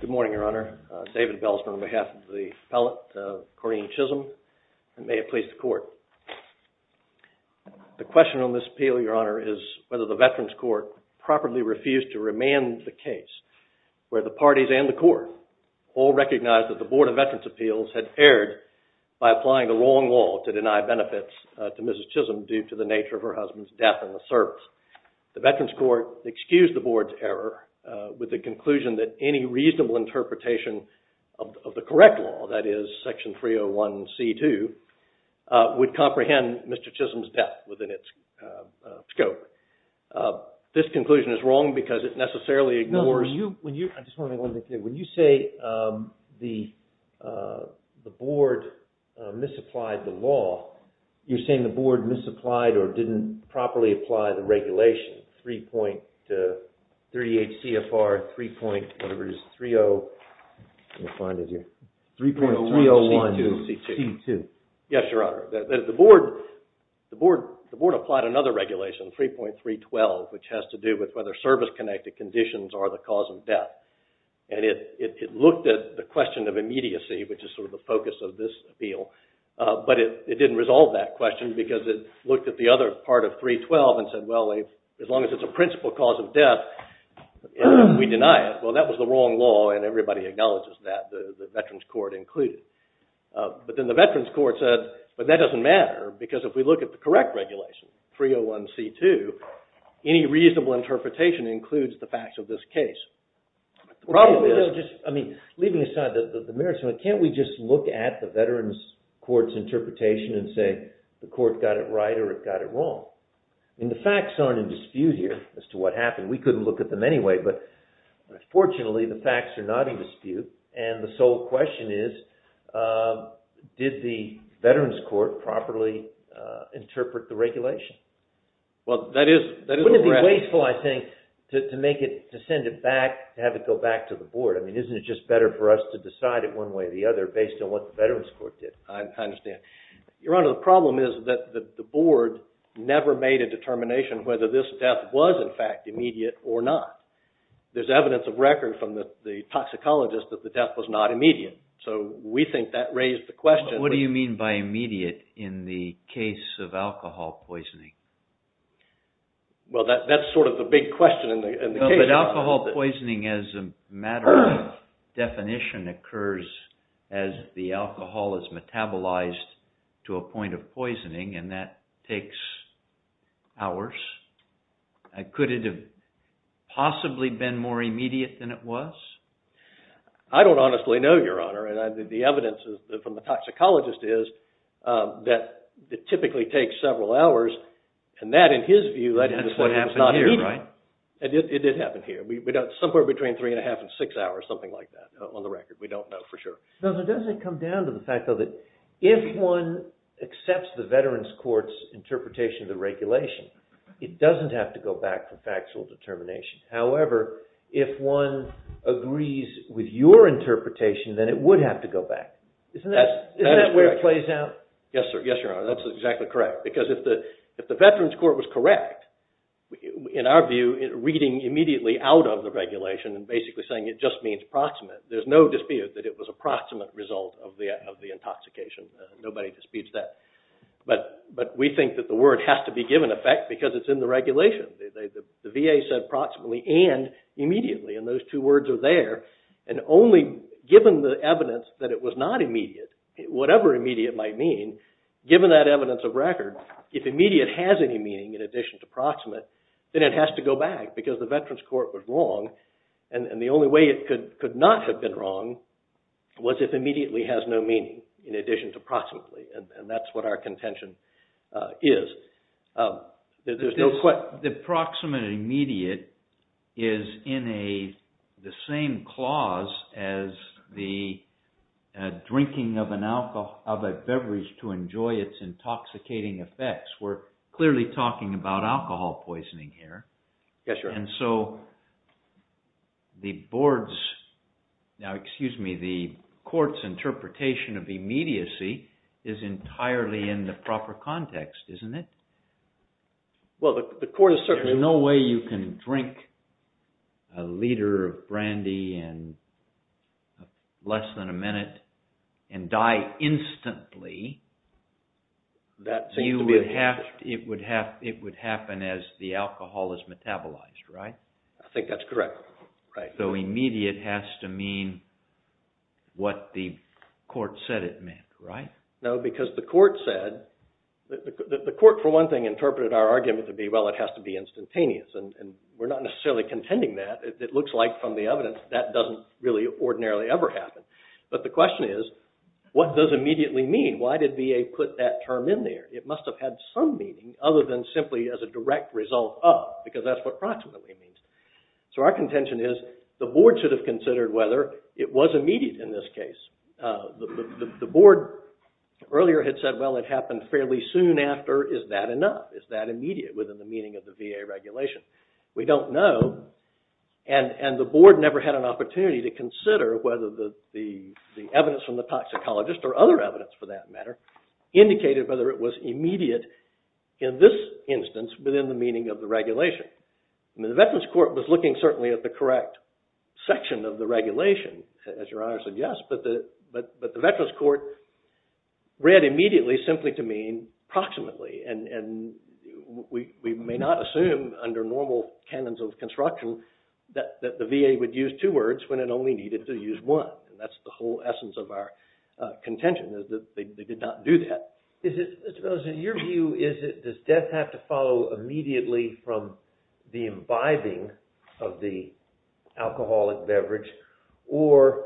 Good morning, Your Honor. It's David Belzner on behalf of the appellate, Corinne Chism. And may it please the Court. The question on this appeal, Your Honor, is whether the Veterans Court properly refused to remand the case where the parties and the Court all to Mrs. Chism due to the nature of her husband's death in the service. The Veterans Court excused the Board's error with the conclusion that any reasonable interpretation of the correct law, that is, Section 301C2, would comprehend Mr. Chism's death within its scope. This conclusion is wrong because it necessarily ignores... When you say the Board misapplied the law, you're saying the Board misapplied or didn't properly apply the regulation, 3.38 CFR, 3.301C2. Yes, Your Honor. The Board applied another regulation, 3.312, which has to do with whether service-connected conditions are the cause of death. And it looked at the question of immediacy, which is sort of the focus of this appeal, but it didn't resolve that question because it looked at the other part of 3.312 and said, well, as long as it's a principal cause of death, we deny it. Well, that was the wrong law, and everybody acknowledges that, the Veterans Court included. But then the Veterans Court said, but that doesn't matter because if we look at the correct regulation, 3.301C2, any reasonable interpretation includes the facts of this case. Leaving aside the merits, can't we just look at the Veterans Court's interpretation and say the court got it right or it got it wrong? And the facts aren't in dispute here as to what happened. We couldn't look at them anyway, but fortunately, the facts are not in dispute and the sole question is, did the Veterans Court properly interpret the regulation? Well, that is correct. Wouldn't it be wasteful, I think, to send it back, to have it go back to the board? I mean, isn't it just better for us to decide it one way or the other based on what the Veterans Court did? I understand. Your Honor, the problem is that the board never made a determination whether this death was, in fact, immediate or not. There's evidence of record from the toxicologist that the death was not immediate, so we think that raised the question. What do you mean by immediate in the case of alcohol poisoning? Well, that's sort of the big question in the case. But alcohol poisoning as a matter of definition occurs as the alcohol is metabolized to a Could it have possibly been more immediate than it was? I don't honestly know, Your Honor, and the evidence from the toxicologist is that it typically takes several hours, and that, in his view, is not immediate. That's what happened here, right? It did happen here. Somewhere between three and a half and six hours, something like that, on the record. We don't know for sure. It doesn't come down to the fact, though, that if one accepts the Veterans Court's interpretation of the regulation, it doesn't have to go back to factual determination. However, if one agrees with your interpretation, then it would have to go back. Isn't that where it plays out? Yes, sir. Yes, Your Honor, that's exactly correct, because if the Veterans Court was correct, in our view, reading immediately out of the regulation and basically saying it just means proximate, there's no dispute that it was a proximate result of the intoxication. Nobody disputes that. But we think that the word has to be given effect because it's in the regulation. The VA said proximately and immediately, and those two words are there. And only given the evidence that it was not immediate, whatever immediate might mean, given that evidence of record, if immediate has any meaning in addition to proximate, then it has to go back because the Veterans Court was wrong. And the only way it could not have been wrong was if immediately has no meaning in addition to proximately, and that's what our contention is. The proximate immediate is in the same clause as the drinking of a beverage to enjoy its intoxicating effects. We're clearly talking about alcohol poisoning here. Yes, Your Honor. And so the board's, now excuse me, the court's interpretation of immediacy is entirely in the proper context, isn't it? Well, the court is certainly... There's no way you can drink a liter of brandy in less than a minute and die instantly. That seems to be... It would happen as the alcohol is metabolized, right? I think that's correct, right. So immediate has to mean what the court said it meant, right? No, because the court said, the court for one thing interpreted our argument to be, well, it has to be instantaneous. And we're not necessarily contending that. It looks like from the evidence that doesn't really ordinarily ever happen. But the question is, what does immediately mean? Why did VA put that term in there? It must have had some meaning, other than simply as a direct result of, because that's what proximately means. So our contention is, the board should have considered whether it was immediate in this case. The board earlier had said, well, it happened fairly soon after. Is that enough? Is that immediate within the meaning of the VA regulation? We don't know. And the board never had an opportunity to consider whether the evidence from the toxicologist or other evidence, for that matter, indicated whether it was immediate in this instance within the meaning of the regulation. The Veterans Court was looking certainly at the correct section of the regulation, as Your Honor suggests. But the Veterans Court read immediately simply to mean proximately. And we may not assume, under normal canons of construction, that the VA would use two words when it only needed to use one. And that's the whole essence of our contention, is that they did not do that. Mr. Bezos, in your view, does death have to follow immediately from the imbibing of the alcoholic beverage? Or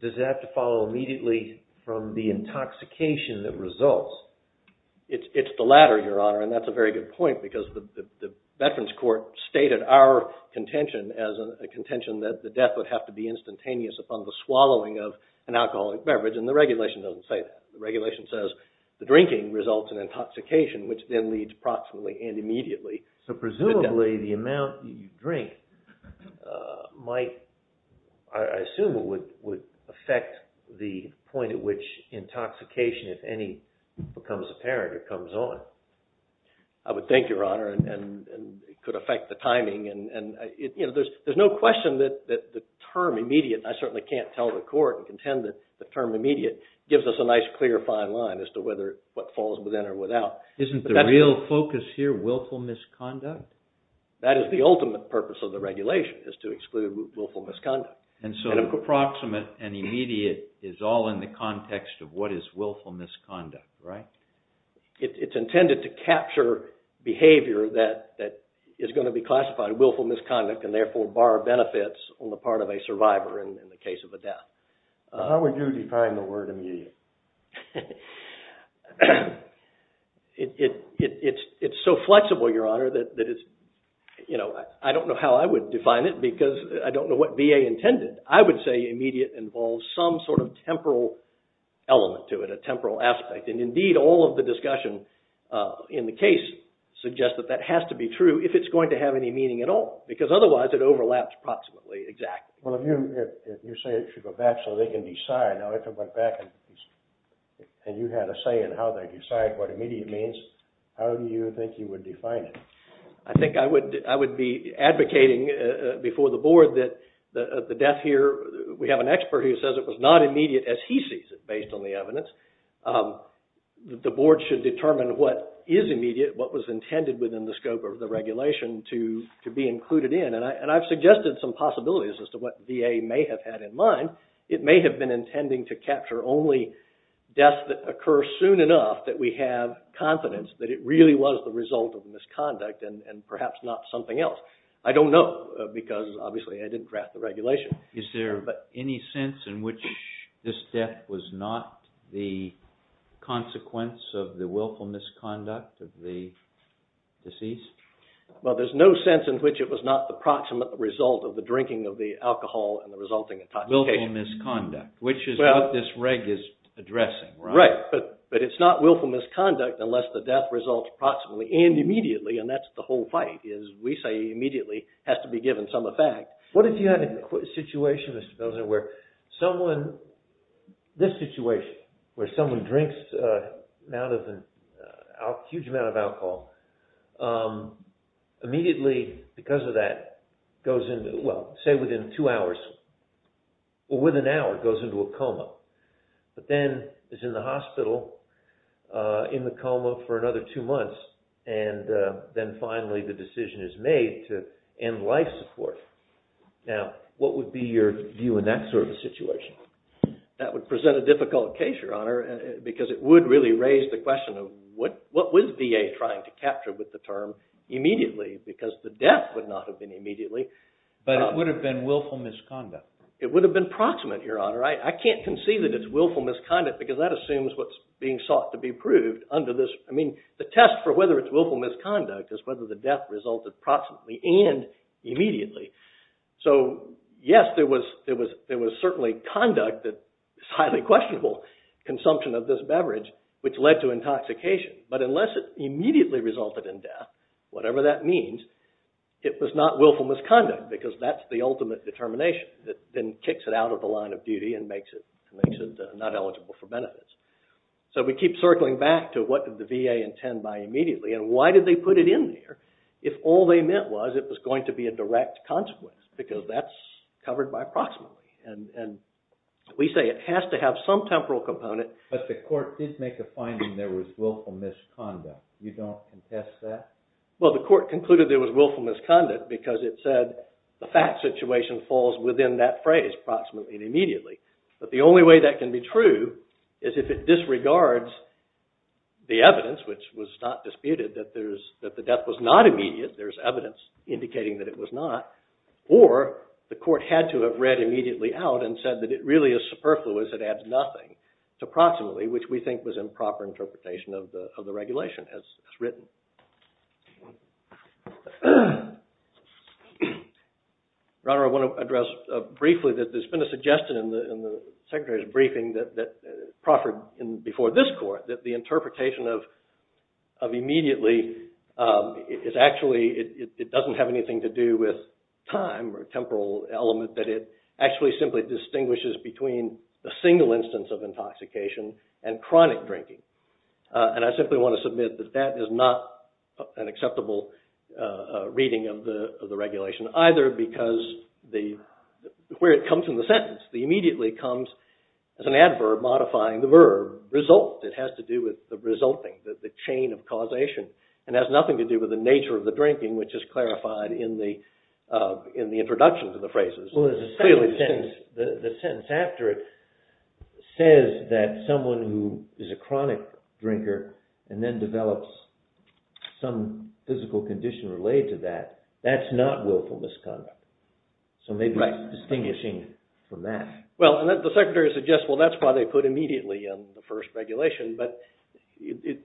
does it have to follow immediately from the intoxication that results? It's the latter, Your Honor. And that's a very good point, because the Veterans Court stated our contention as a contention that the death would have to be instantaneous upon the swallowing of an alcoholic beverage. And the regulation doesn't say that. The regulation says the drinking results in intoxication, which then leads proximately and immediately. So presumably, the amount you drink might, I assume, would affect the point at which the intoxication, if any, becomes apparent or comes on. I would think, Your Honor. And it could affect the timing. And there's no question that the term immediate, and I certainly can't tell the court and contend that the term immediate gives us a nice, clear, fine line as to whether what falls within or without. Isn't the real focus here willful misconduct? That is the ultimate purpose of the regulation, is to exclude willful misconduct. And so proximate and immediate is all in the context of what is willful misconduct, right? It's intended to capture behavior that is going to be classified willful misconduct and therefore bar benefits on the part of a survivor in the case of a death. How would you define the word immediate? It's so flexible, Your Honor, that it's, you know, I don't know how I would define it because I don't know what VA intended. I would say immediate involves some sort of temporal element to it, a temporal aspect. And indeed, all of the discussion in the case suggests that that has to be true if it's going to have any meaning at all. Because otherwise, it overlaps proximately exactly. Well, if you say it should go back so they can decide. Now if it went back and you had a say in how they decide what immediate means, how do you think you would define it? I think I would be advocating before the Board that the death here, we have an expert who says it was not immediate as he sees it based on the evidence. The Board should determine what is immediate, what was intended within the scope of the regulation to be included in. And I've suggested some possibilities as to what VA may have had in mind. It may have been intending to capture only deaths that occur soon enough that we have confidence that it really was the result of misconduct and perhaps not something else. I don't know because obviously I didn't draft the regulation. Is there any sense in which this death was not the consequence of the willful misconduct of the deceased? Well, there's no sense in which it was not the proximate result of the drinking of the alcohol and the resulting intoxication. Willful misconduct, which is what this reg is addressing, right? Right, but it's not willful misconduct unless the death results proximately and immediately and that's the whole fight is we say immediately has to be given some effect. What if you had a situation, Mr. Pilsner, where someone, this situation, where someone drinks a huge amount of alcohol, immediately because of that goes into, well, say within two hours or within an hour goes into a coma, but then is in the hospital in the coma for another two months and then finally the decision is made to end life support. Now, what would be your view in that sort of situation? That would present a difficult case, Your Honor, because it would really raise the question of what was VA trying to capture with the term immediately because the death would not have been immediately. But it would have been willful misconduct. It would have been proximate, Your Honor. I can't concede that it's willful misconduct because that assumes what's being sought to be proved under this, I mean, the test for whether it's willful misconduct is whether the death resulted proximately and immediately. So, yes, there was certainly conduct that is highly questionable, consumption of this beverage, which led to intoxication, but unless it immediately resulted in death, whatever that means, it was not willful misconduct because that's the ultimate determination that then kicks it out of the line of duty and makes it not eligible for benefits. So we keep circling back to what did the VA intend by immediately and why did they put it in there if all they meant was it was going to be a direct consequence because that's covered by proximately. And we say it has to have some temporal component. But the court did make a finding there was willful misconduct. You don't contest that? Well, the court concluded there was willful misconduct because it said the fact situation falls within that phrase, proximately and immediately. But the only way that can be true is if it disregards the evidence, which was not disputed, that the death was not immediate, there's evidence indicating that it was not, or the court had to have read immediately out and said that it really is superfluous, it adds nothing to proximately, which we think was improper interpretation of the regulation as written. Your Honor, I want to address briefly that there's been a suggestion in the Secretary's briefing that proffered before this court that the interpretation of immediately is actually, it doesn't have anything to do with time or temporal element, that it actually simply distinguishes between a single instance of intoxication and chronic drinking. And I simply want to submit that that is not an acceptable reading of the regulation, either because where it comes from the sentence, the immediately comes as an adverb modifying the verb result. It has to do with the resulting, the chain of causation, and has nothing to do with the nature of the drinking, which is clarified in the introduction to the phrases. The sentence after it says that someone who is a chronic drinker and then develops some physical condition related to that, that's not willful misconduct. So maybe it's distinguishing from that. Well, the Secretary suggests, well, that's why they put immediately in the first regulation, but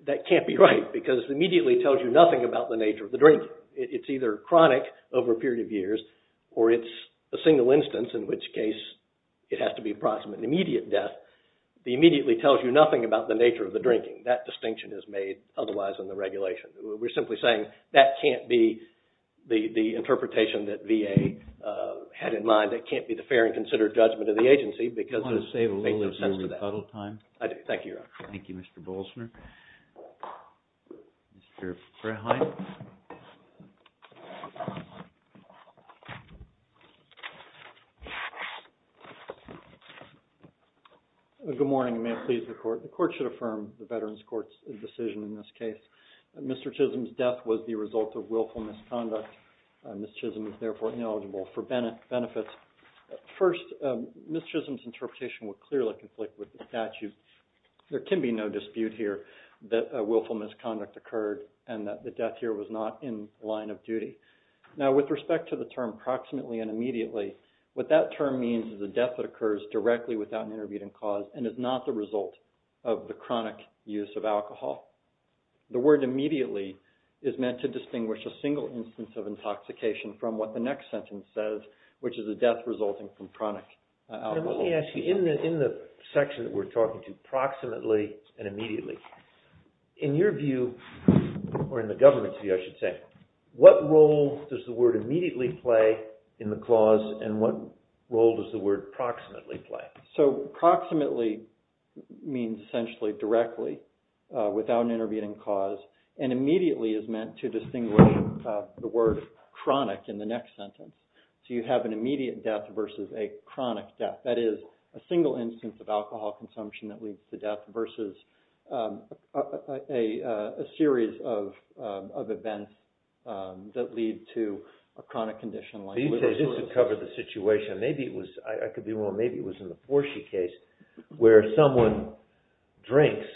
that can't be right, because immediately tells you nothing about the nature of the or it's either chronic over a period of years, or it's a single instance in which case it has to be approximate and immediate death. The immediately tells you nothing about the nature of the drinking. That distinction is made otherwise in the regulation. We're simply saying that can't be the interpretation that VA had in mind. That can't be the fair and considered judgment of the agency because it makes no sense to that. I want to save a little of your rebuttal time. I do. Thank you, Your Honor. Thank you, Mr. Bolzner. Mr. Frehlein. Good morning. May it please the Court. The Court should affirm the Veterans Court's decision in this case. Mr. Chisholm's death was the result of willful misconduct. Ms. Chisholm is, therefore, ineligible for benefits. First, Ms. Chisholm's interpretation would clearly conflict with the statute. There can be no dispute here that willful misconduct occurred and that the death here was not in line of duty. Now, with respect to the term approximately and immediately, what that term means is a death that occurs directly without an intervening cause and is not the result of the chronic use of alcohol. The word immediately is meant to distinguish a single instance of intoxication from what the next sentence says, Now, let me ask you, in the section that we're talking to, approximately and immediately, in your view, or in the government's view, I should say, what role does the word immediately play in the clause and what role does the word approximately play? So, approximately means essentially directly, without an intervening cause, and immediately is meant to distinguish the word chronic in the next sentence. So, you have an immediate death versus a chronic death. That is, a single instance of alcohol consumption that leads to death versus a series of events that lead to a chronic condition. So, you say this would cover the situation. Maybe it was, I could be wrong, maybe it was in the Portia case, where someone drinks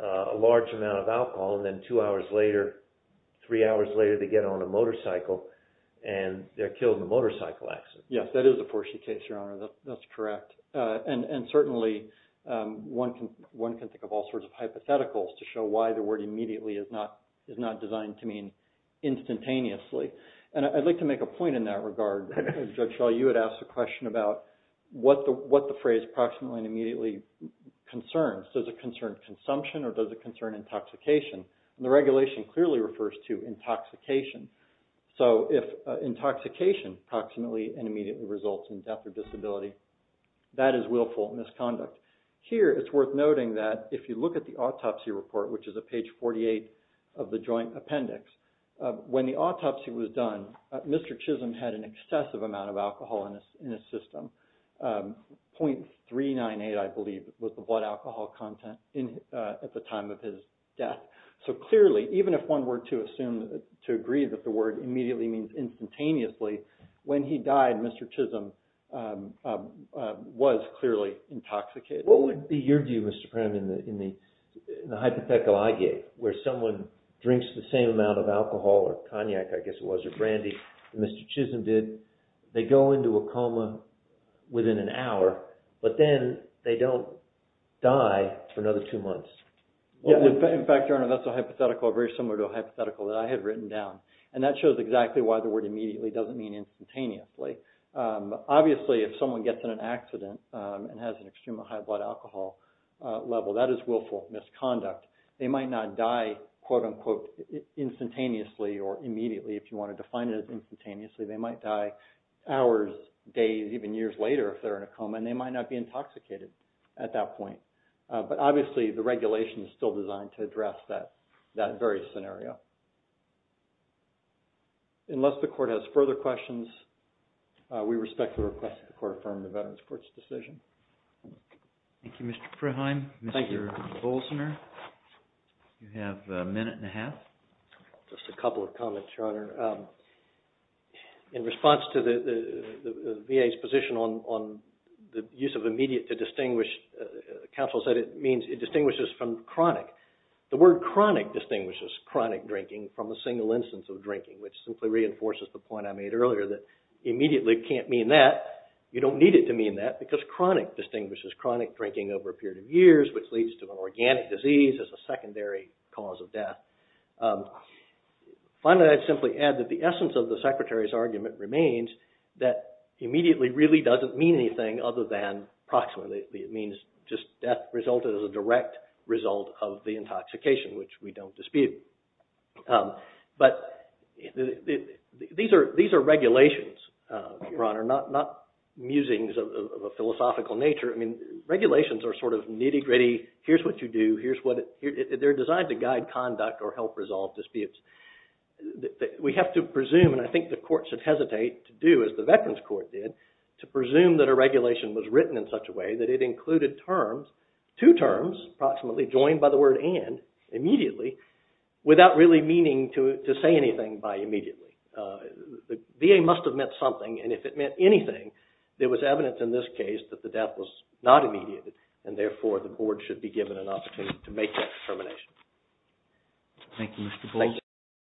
a large amount of alcohol and then two hours later, three hours later, they get on a motorcycle and they're killed in a motorcycle accident. Yes, that is a Portia case, Your Honor. That's correct. And certainly, one can think of all sorts of hypotheticals to show why the word immediately is not designed to mean instantaneously. And I'd like to make a point in that regard. Judge Shaw, you had asked a question about what the phrase approximately and immediately concerns. Does it concern consumption or does it concern intoxication? The regulation clearly refers to intoxication. So, if intoxication approximately and immediately results in death or disability, that is willful misconduct. Here, it's worth noting that if you look at the autopsy report, which is at page 48 of the joint appendix, when the autopsy was done, Mr. Chisholm had an excessive amount of alcohol in his system. .398, I believe, was the blood alcohol content at the time of his death. So, clearly, even if one were to assume, to agree that the word immediately means instantaneously, when he died, Mr. Chisholm was clearly intoxicated. What would be your view, Mr. Prem, in the hypothetical I gave, where someone drinks the same amount of alcohol or cognac, I guess it was, or brandy, as Mr. Chisholm did, they go into a coma within an hour, but then they don't die for another two months? In fact, Your Honor, that's a hypothetical very similar to a hypothetical that I had written down. And that shows exactly why the word immediately doesn't mean instantaneously. Obviously, if someone gets in an accident and has an extreme high blood alcohol level, that is willful misconduct. They might not die, quote-unquote, instantaneously or immediately, if you want to define it as instantaneously. They might die hours, days, even years later if they're in a coma, and they might not be intoxicated at that point. But obviously, the regulation is still designed to address that very scenario. Unless the Court has further questions, we respect the request of the Court to affirm the Veterans Court's decision. Thank you, Mr. Freheim. Mr. Bolzner, you have a minute and a half. Just a couple of comments, Your Honor. In response to the VA's position on the use of immediate to distinguish, counsel said it means it distinguishes from chronic. The word chronic distinguishes chronic drinking from a single instance of drinking, which simply reinforces the point I made earlier that immediately can't mean that. You don't need it to mean that because chronic distinguishes chronic drinking over a period of years, which leads to an organic disease as a secondary cause of death. Finally, I'd simply add that the essence of the Secretary's argument remains that immediately really doesn't mean anything other than approximately. It means just death resulted as a direct result of the intoxication, which we don't dispute. But these are regulations, Your Honor, not musings of a philosophical nature. Regulations are sort of nitty-gritty. Here's what you do. They're designed to guide conduct or help resolve disputes. We have to presume, and I think the Court should hesitate to do as the Veterans Court did, to presume that a regulation was written in such a way that it included terms, two terms, approximately, joined by the word and, immediately, without really meaning to say anything by immediately. The VA must have meant something, and if it meant anything, there was evidence in this case that the death was not immediate, and therefore the Board should be given an opportunity to make that determination. Thank you, Mr. Gorsuch.